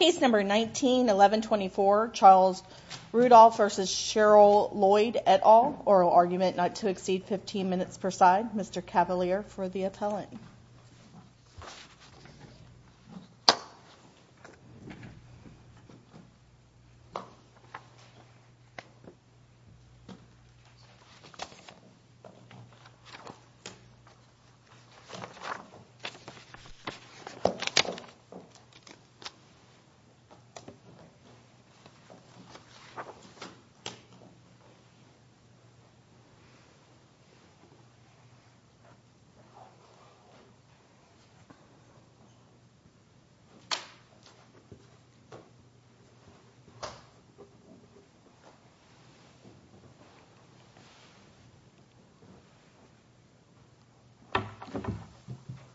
Case number 19-1124, Charles Rudolph v. Sheryl Lloyd et al. Oral argument not to exceed 15 minutes per side. Mr. Cavalier for the appellant.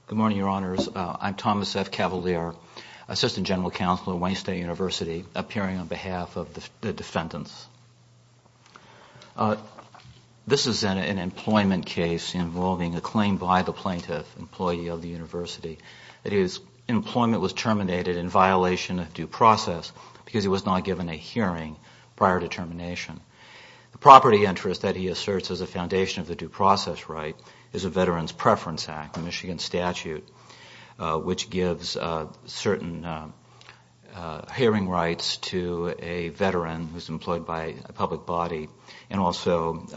Good morning, Your Honors. I'm Thomas F. Cavalier. Assistant General Counsel at Wayne State University appearing on behalf of the defendants. This is an employment case involving a claim by the plaintiff, employee of the university, that his employment was terminated in violation of due process because he was not given a hearing prior to termination. The property interest that he asserts as a foundation of the due process right is a Veterans Preference Act, a Michigan statute, which gives certain hearing rights to a veteran who is employed by a public body and also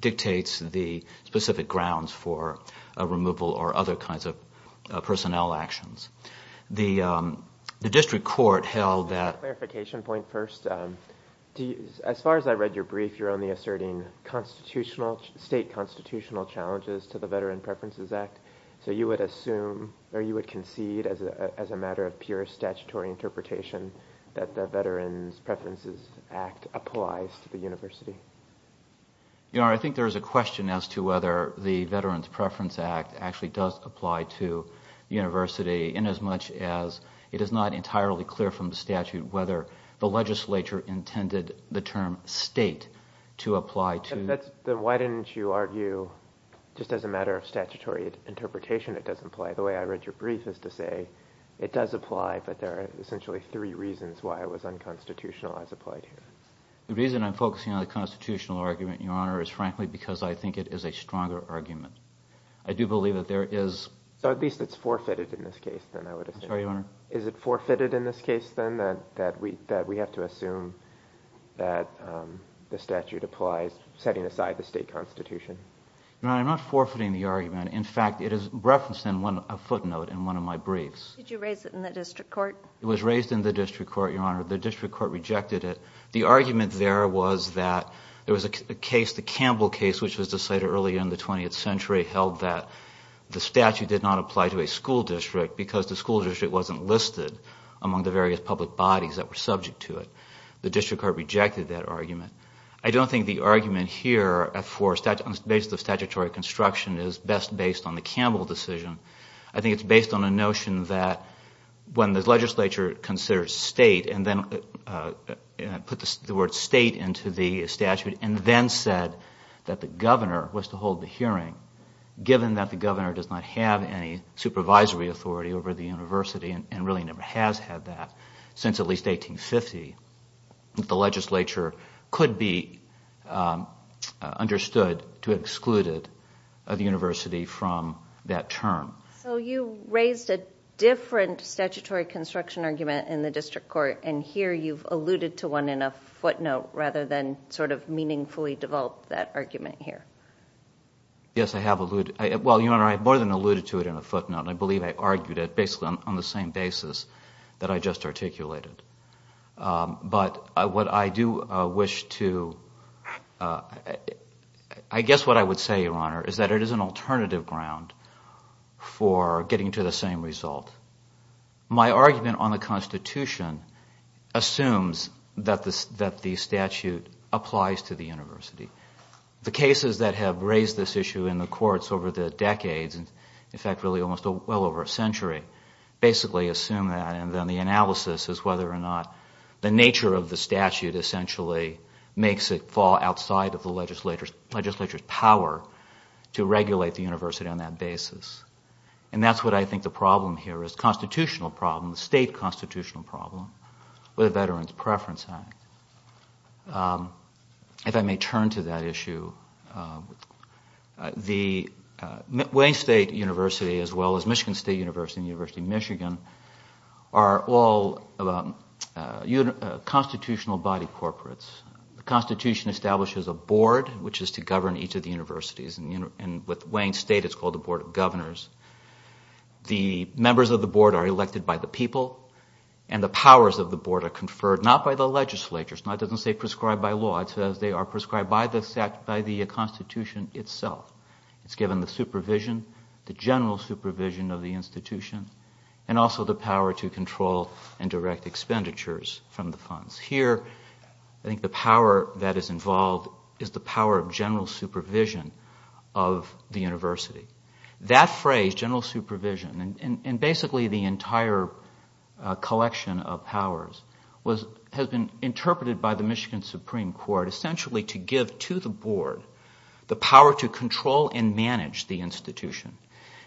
dictates the specific grounds for a removal or other kinds of personnel actions. The district court held that – Clarification point first. As far as I read your brief, you're only asserting state constitutional challenges to the Veteran Preferences Act. So you would assume or you would concede as a matter of pure statutory interpretation that the Veterans Preferences Act applies to the university? Your Honor, I think there is a question as to whether the Veterans Preference Act actually does apply to the university inasmuch as it is not entirely clear from the statute whether the legislature intended the term state to apply to – Then why didn't you argue just as a matter of statutory interpretation it does apply? The way I read your brief is to say it does apply, but there are essentially three reasons why it was unconstitutional as applied here. The reason I'm focusing on the constitutional argument, Your Honor, is frankly because I think it is a stronger argument. I do believe that there is – So at least it's forfeited in this case, then, I would assume. I'm sorry, Your Honor? Is it forfeited in this case, then, that we have to assume that the statute applies, setting aside the state constitution? Your Honor, I'm not forfeiting the argument. In fact, it is referenced in a footnote in one of my briefs. Did you raise it in the district court? It was raised in the district court, Your Honor. The district court rejected it. The argument there was that there was a case, the Campbell case, which was decided early in the 20th century held that the statute did not apply to a school district because the school district wasn't listed among the various public bodies that were subject to it. The district court rejected that argument. I don't think the argument here for – on the basis of statutory construction is best based on the Campbell decision. I think it's based on a notion that when the legislature considers state and then put the word state into the statute and then said that the governor was to hold the hearing, given that the governor does not have any supervisory authority over the university and really never has had that since at least 1850, the legislature could be understood to have excluded the university from that term. So you raised a different statutory construction argument in the district court, and here you've alluded to one in a footnote rather than sort of meaningfully developed that argument here. Yes, I have alluded – well, Your Honor, I've more than alluded to it in a footnote, and I believe I argued it basically on the same basis that I just articulated. But what I do wish to – I guess what I would say, Your Honor, is that it is an alternative ground for getting to the same result. My argument on the Constitution assumes that the statute applies to the university. The cases that have raised this issue in the courts over the decades, in fact really almost well over a century, basically assume that. And then the analysis is whether or not the nature of the statute essentially makes it fall outside of the legislature's power to regulate the university on that basis. And that's what I think the problem here is, the constitutional problem, the state constitutional problem with the Veterans Preference Act. If I may turn to that issue, Wayne State University as well as Michigan State University and the University of Michigan are all constitutional body corporates. The Constitution establishes a board which is to govern each of the universities, and with Wayne State it's called the Board of Governors. The members of the board are elected by the people, and the powers of the board are conferred not by the legislature – it doesn't say prescribed by law, it says they are prescribed by the Constitution itself. It's given the supervision, the general supervision of the institution, and also the power to control and direct expenditures from the funds. Here I think the power that is involved is the power of general supervision of the university. That phrase, general supervision, and basically the entire collection of powers has been interpreted by the Michigan Supreme Court essentially to give to the board the power to control and manage the institution.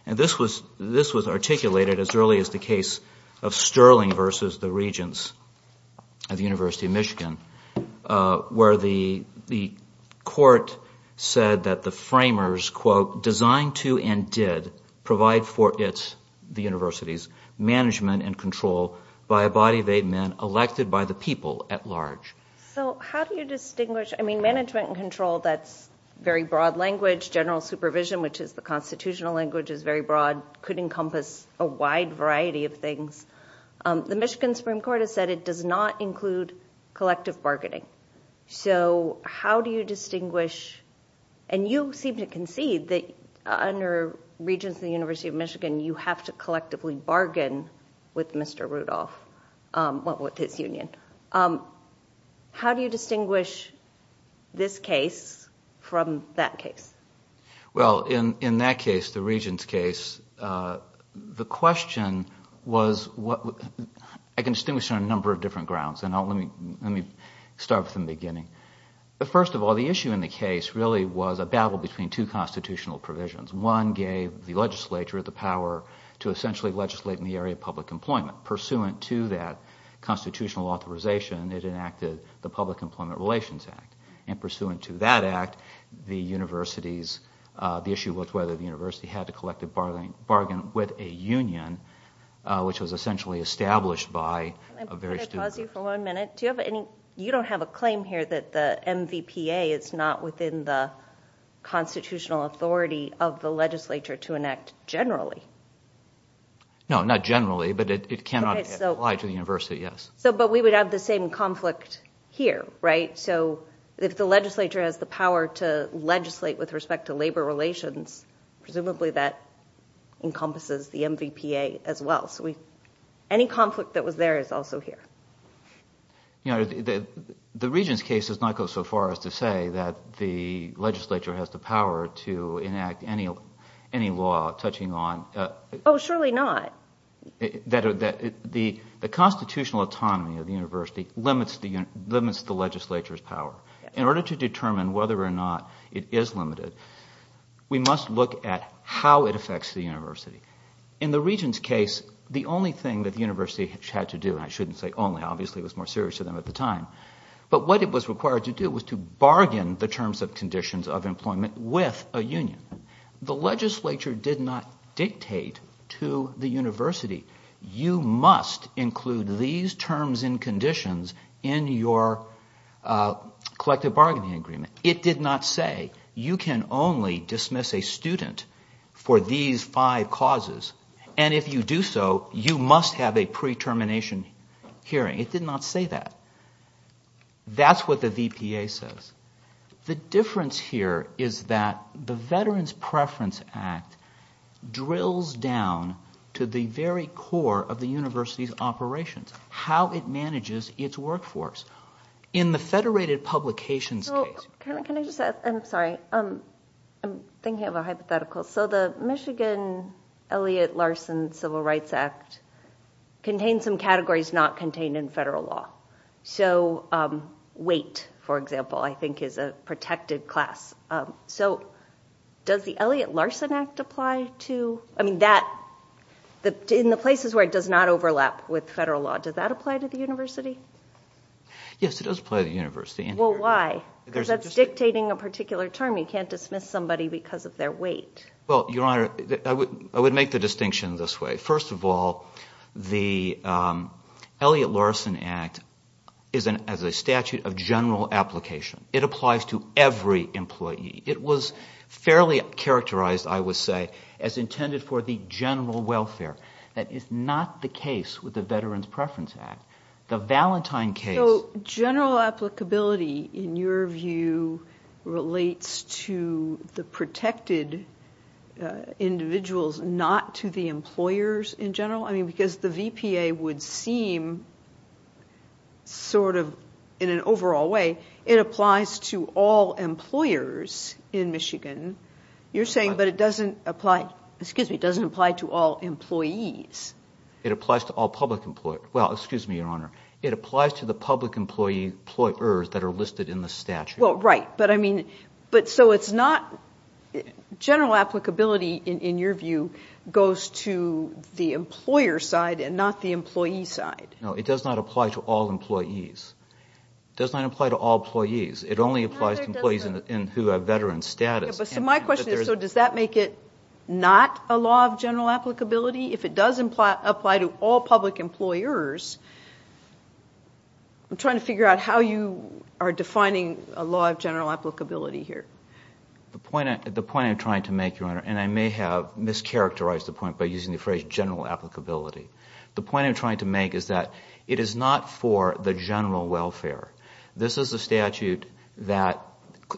And this was articulated as early as the case of Sterling versus the Regents at the University of Michigan, where the court said that the framers, quote, designed to and did provide for it, the universities, management and control by a body of eight men elected by the people at large. So how do you distinguish – I mean, management and control, that's very broad language. General supervision, which is the constitutional language, is very broad, could encompass a wide variety of things. The Michigan Supreme Court has said it does not include collective bargaining. So how do you distinguish – and you seem to concede that under Regents at the University of Michigan you have to collectively bargain with Mr. Rudolph, with his union. How do you distinguish this case from that case? Well, in that case, the Regents case, the question was – I can distinguish on a number of different grounds, and let me start from the beginning. First of all, the issue in the case really was a battle between two constitutional provisions. One gave the legislature the power to essentially legislate in the area of public employment. Pursuant to that constitutional authorization, it enacted the Public Employment Relations Act. And pursuant to that act, the universities – the issue was whether the university had to collectively bargain with a union, which was essentially established by a very – Do you have any – you don't have a claim here that the MVPA is not within the constitutional authority of the legislature to enact generally. No, not generally, but it cannot apply to the university, yes. But we would have the same conflict here, right? So if the legislature has the power to legislate with respect to labor relations, presumably that encompasses the MVPA as well. So any conflict that was there is also here. The Regents case does not go so far as to say that the legislature has the power to enact any law touching on – Oh, surely not. – that the constitutional autonomy of the university limits the legislature's power. In order to determine whether or not it is limited, we must look at how it affects the university. In the Regents case, the only thing that the university had to do – and I shouldn't say only. Obviously it was more serious to them at the time. But what it was required to do was to bargain the terms and conditions of employment with a union. The legislature did not dictate to the university, you must include these terms and conditions in your collective bargaining agreement. It did not say you can only dismiss a student for these five causes. And if you do so, you must have a pre-termination hearing. It did not say that. That's what the VPA says. The difference here is that the Veterans Preference Act drills down to the very core of the university's operations, how it manages its workforce. In the Federated Publications case – Can I just – I'm sorry. I'm thinking of a hypothetical. So the Michigan Elliott Larson Civil Rights Act contains some categories not contained in federal law. So weight, for example, I think is a protected class. So does the Elliott Larson Act apply to – I mean that – in the places where it does not overlap with federal law, does that apply to the university? Yes, it does apply to the university. Well, why? Because that's dictating a particular term. You can't dismiss somebody because of their weight. Well, Your Honor, I would make the distinction this way. First of all, the Elliott Larson Act is a statute of general application. It applies to every employee. It was fairly characterized, I would say, as intended for the general welfare. That is not the case with the Veterans Preference Act. The Valentine case – in your view relates to the protected individuals, not to the employers in general? I mean, because the VPA would seem sort of in an overall way it applies to all employers in Michigan. You're saying, but it doesn't apply – excuse me, it doesn't apply to all employees. It applies to all public – well, excuse me, Your Honor. It applies to the public employers that are listed in the statute. Well, right, but I mean – but so it's not – general applicability, in your view, goes to the employer side and not the employee side. No, it does not apply to all employees. It does not apply to all employees. It only applies to employees who have veteran status. So my question is, so does that make it not a law of general applicability? If it does apply to all public employers, I'm trying to figure out how you are defining a law of general applicability here. The point I'm trying to make, Your Honor, and I may have mischaracterized the point by using the phrase general applicability. The point I'm trying to make is that it is not for the general welfare. This is a statute that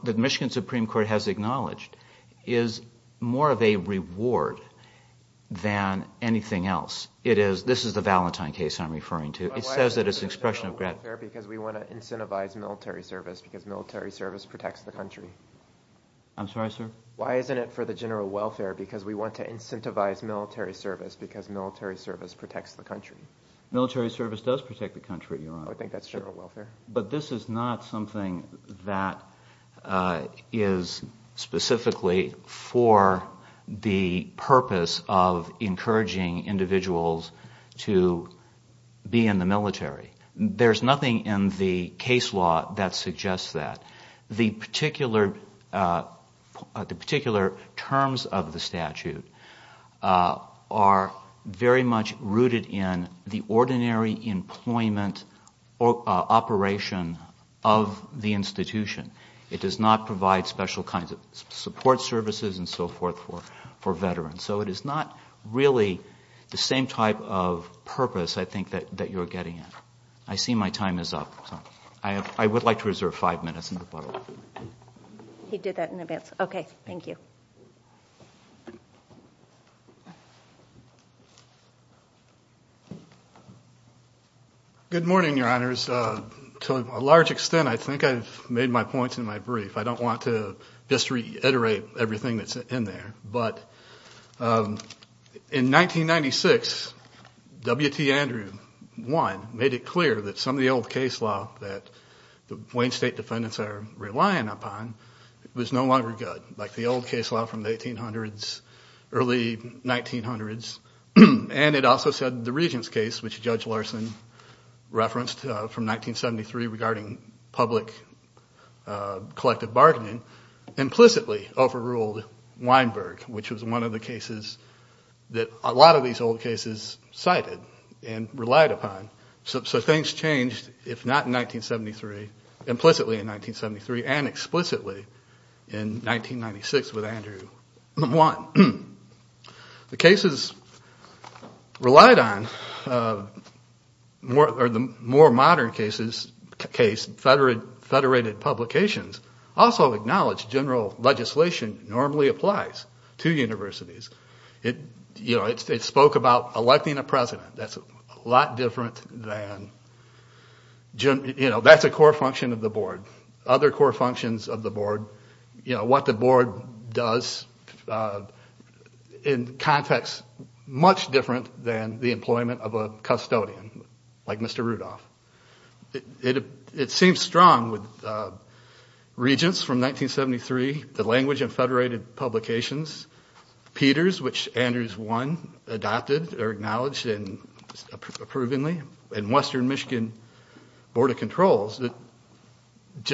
the Michigan Supreme Court has acknowledged is more of a reward than anything else. It is – this is the Valentine case I'm referring to. It says that it's an expression of – But why isn't it for the general welfare because we want to incentivize military service because military service protects the country? I'm sorry, sir? Why isn't it for the general welfare because we want to incentivize military service because military service protects the country? Military service does protect the country, Your Honor. I think that's general welfare. But this is not something that is specifically for the purpose of encouraging individuals to be in the military. There's nothing in the case law that suggests that. The particular terms of the statute are very much rooted in the ordinary employment operation of the institution. It does not provide special kinds of support services and so forth for veterans. So it is not really the same type of purpose, I think, that you're getting at. I see my time is up. I would like to reserve five minutes. He did that in advance. Okay, thank you. Good morning, Your Honors. To a large extent, I think I've made my points in my brief. I don't want to just reiterate everything that's in there. But in 1996, W.T. Andrew I made it clear that some of the old case law that the Wayne State defendants are relying upon was no longer good, like the old case law from the 1800s, early 1900s. And it also said the Regents case, which Judge Larson referenced from 1973 regarding public collective bargaining, implicitly overruled Weinberg, which was one of the cases that a lot of these old cases cited and relied upon. So things changed, if not in 1973, implicitly in 1973 and explicitly in 1996 with Andrew I. The cases relied on, or the more modern case, federated publications, also acknowledged general legislation normally applies to universities. It spoke about electing a president. That's a lot different than, you know, that's a core function of the board. Other core functions of the board, you know, what the board does in context much different than the employment of a custodian like Mr. Rudolph. It seems strong with Regents from 1973, the language and federated publications, Peters, which Andrew I adopted or acknowledged approvingly, and Western Michigan Board of Controls, that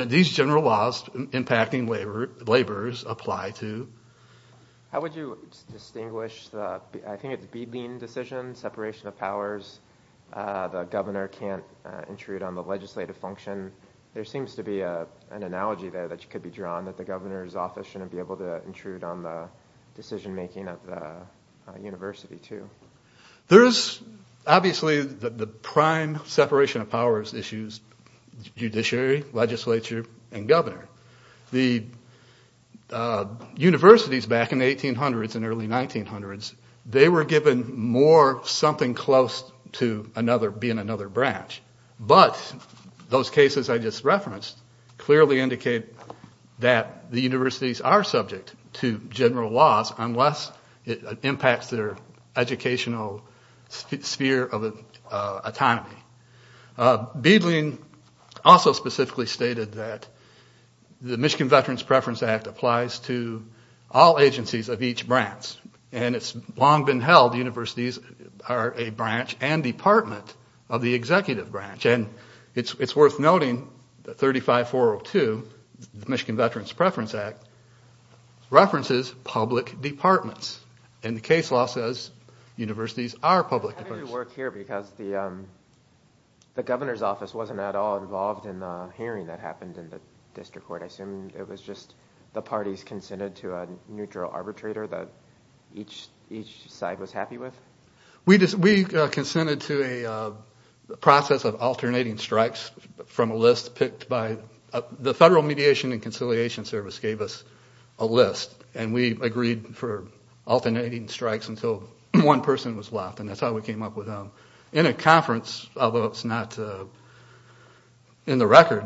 these general laws impacting laborers apply to. How would you distinguish, I think it's a beading decision, separation of powers, the governor can't intrude on the legislative function. There seems to be an analogy there that could be drawn that the governor's office shouldn't be able to intrude on the decision making of the university too. There's obviously the prime separation of powers issues, judiciary, legislature, and governor. The universities back in the 1800s and early 1900s, they were given more something close to another, being another branch. But those cases I just referenced clearly indicate that the universities are subject to general laws unless it impacts their educational sphere of autonomy. Beadling also specifically stated that the Michigan Veterans Preference Act applies to all agencies of each branch. And it's long been held universities are a branch and department of the executive branch. And it's worth noting that 35402, the Michigan Veterans Preference Act, references public departments. And the case law says universities are public departments. How did it work here because the governor's office wasn't at all involved in the hearing that happened in the district court. I assume it was just the parties consented to a neutral arbitrator that each side was happy with? We consented to a process of alternating strikes from a list picked by the Federal Mediation and Conciliation Service gave us a list. And we agreed for alternating strikes until one person was left. And that's how we came up with them. In a conference, although it's not in the record,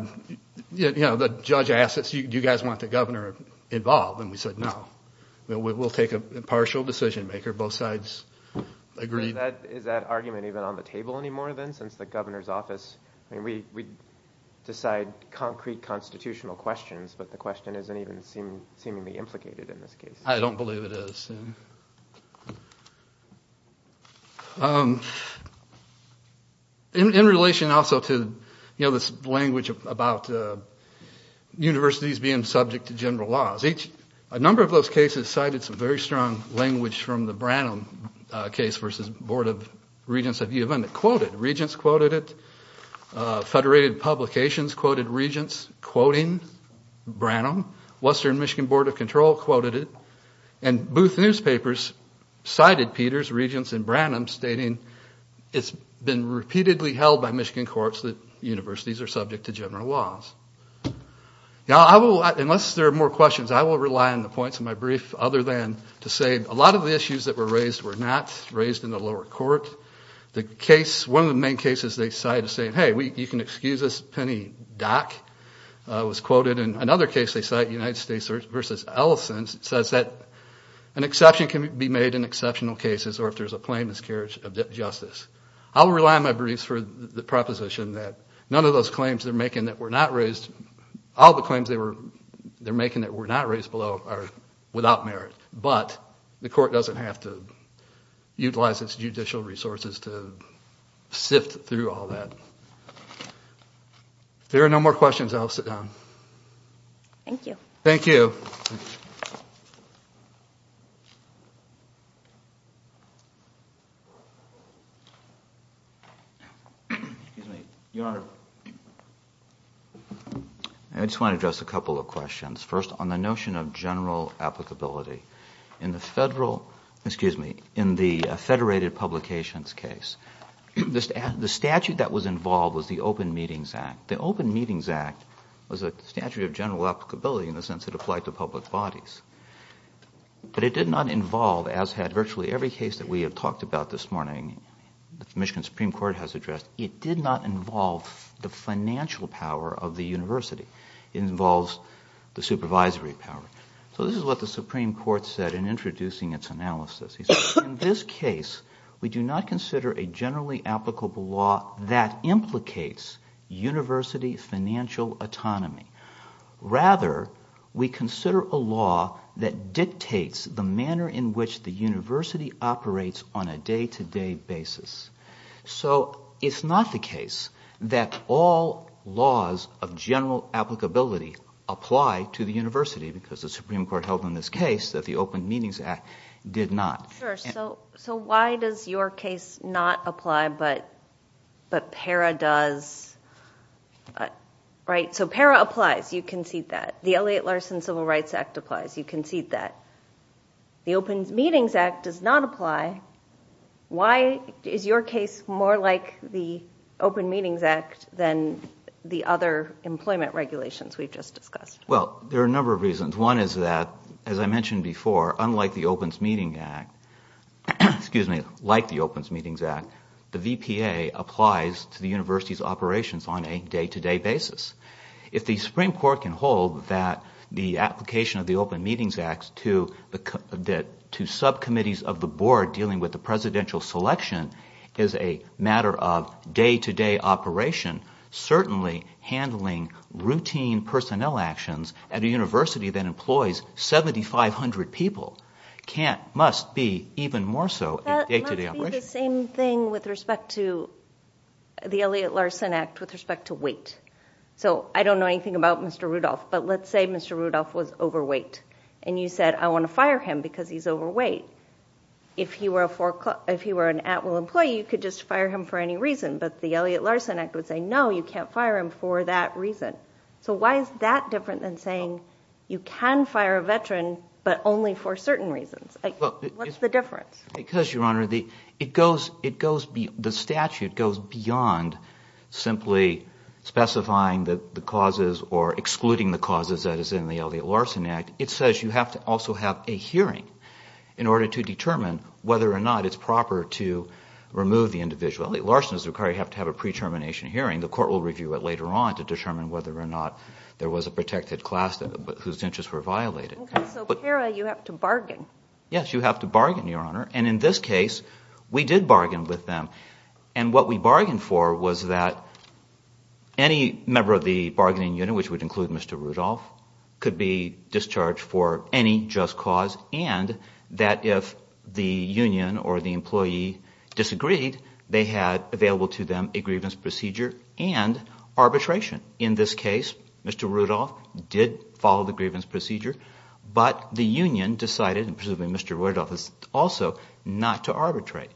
the judge asked us, do you guys want the governor involved? And we said no. We'll take a partial decision maker. Both sides agreed. Is that argument even on the table anymore then since the governor's office? We decide concrete constitutional questions, but the question isn't even seemingly implicated in this case. I don't believe it is. Interesting. In relation also to this language about universities being subject to general laws, a number of those cases cited some very strong language from the Branham case versus Board of Regents of U of M. It quoted, regents quoted it, federated publications quoted regents quoting Branham. Western Michigan Board of Control quoted it. And Booth newspapers cited Peters, Regents, and Branham stating it's been repeatedly held by Michigan courts that universities are subject to general laws. Now I will, unless there are more questions, I will rely on the points of my brief other than to say a lot of the issues that were raised were not raised in the lower court. The case, one of the main cases they cite is saying, hey, you can excuse us, Penny Dock was quoted. And another case they cite, United States versus Ellison, says that an exception can be made in exceptional cases or if there's a plain miscarriage of justice. I will rely on my briefs for the proposition that none of those claims they're making that were not raised, all the claims they're making that were not raised below are without merit. But the court doesn't have to utilize its judicial resources to sift through all that. If there are no more questions, I'll sit down. Thank you. Thank you. I just want to address a couple of questions. First, on the notion of general applicability. In the Federal, excuse me, in the Federated Publications case, the statute that was involved was the Open Meetings Act. The Open Meetings Act was a statute of general applicability in the sense it applied to public bodies. But it did not involve, as had virtually every case that we have talked about this morning, the Michigan Supreme Court has addressed, it did not involve the financial power of the university. It involves the supervisory power. So this is what the Supreme Court said in introducing its analysis. He said, in this case, we do not consider a generally applicable law that implicates university financial autonomy. Rather, we consider a law that dictates the manner in which the university operates on a day-to-day basis. So it's not the case that all laws of general applicability apply to the university, because the Supreme Court held in this case that the Open Meetings Act did not. Sure. So why does your case not apply, but PARA does? Right. So PARA applies. You concede that. The Elliott Larson Civil Rights Act applies. You concede that. The Open Meetings Act does not apply. Why is your case more like the Open Meetings Act than the other employment regulations we've just discussed? Well, there are a number of reasons. One is that, as I mentioned before, unlike the Open Meetings Act, the VPA applies to the university's operations on a day-to-day basis. If the Supreme Court can hold that the application of the Open Meetings Act to subcommittees of the board dealing with the presidential selection is a matter of day-to-day operation, certainly handling routine personnel actions at a university that employs 7,500 people must be even more so a day-to-day operation. Would it be the same thing with respect to the Elliott Larson Act with respect to wait? So I don't know anything about Mr. Rudolph, but let's say Mr. Rudolph was overweight and you said, I want to fire him because he's overweight. If he were an at-will employee, you could just fire him for any reason. But the Elliott Larson Act would say, no, you can't fire him for that reason. So why is that different than saying you can fire a veteran, but only for certain reasons? What's the difference? Because, Your Honor, the statute goes beyond simply specifying the causes or excluding the causes that is in the Elliott Larson Act. It says you have to also have a hearing in order to determine whether or not it's proper to remove the individual. Elliott Larson does require you have to have a pre-termination hearing. The court will review it later on to determine whether or not there was a protected class whose interests were violated. So para, you have to bargain. Yes, you have to bargain, Your Honor, and in this case, we did bargain with them. And what we bargained for was that any member of the bargaining unit, which would include Mr. Rudolph, could be discharged for any just cause and that if the union or the employee disagreed, they had available to them a grievance procedure and arbitration. In this case, Mr. Rudolph did follow the grievance procedure, but the union decided, and presumably Mr. Rudolph also, not to arbitrate.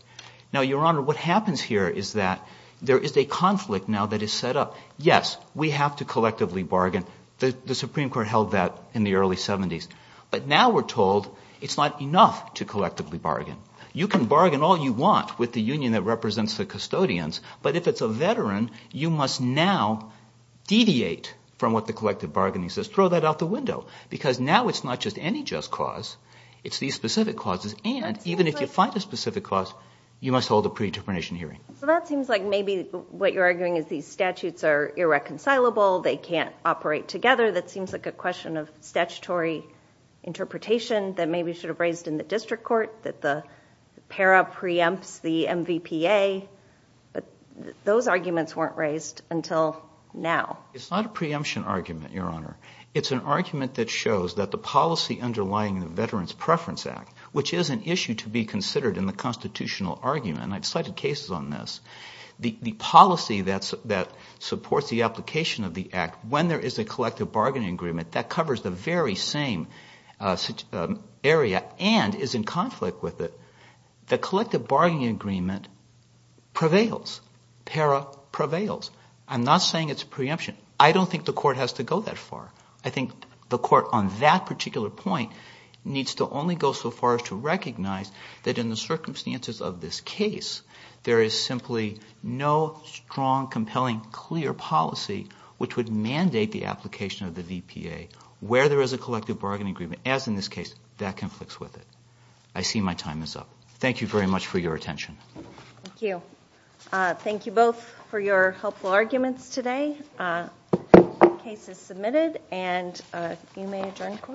Now, Your Honor, what happens here is that there is a conflict now that is set up. Yes, we have to collectively bargain. The Supreme Court held that in the early 70s. But now we're told it's not enough to collectively bargain. You can bargain all you want with the union that represents the custodians, but if it's a veteran, you must now deviate from what the collective bargaining says. Throw that out the window because now it's not just any just cause. It's these specific causes, and even if you find a specific cause, you must hold a pre-determination hearing. So that seems like maybe what you're arguing is these statutes are irreconcilable. They can't operate together. That seems like a question of statutory interpretation that maybe should have raised in the district court, that the para preempts the MVPA. But those arguments weren't raised until now. It's not a preemption argument, Your Honor. It's an argument that shows that the policy underlying the Veterans Preference Act, which is an issue to be considered in the constitutional argument, and I've cited cases on this, the policy that supports the application of the act, when there is a collective bargaining agreement, that covers the very same area and is in conflict with it. The collective bargaining agreement prevails. Para prevails. I'm not saying it's a preemption. I don't think the court has to go that far. I think the court on that particular point needs to only go so far as to recognize that in the circumstances of this case, there is simply no strong, compelling, clear policy which would mandate the application of the VPA. Where there is a collective bargaining agreement, as in this case, that conflicts with it. I see my time is up. Thank you very much for your attention. Thank you. Thank you both for your helpful arguments today. Case is submitted, and you may adjourn the court.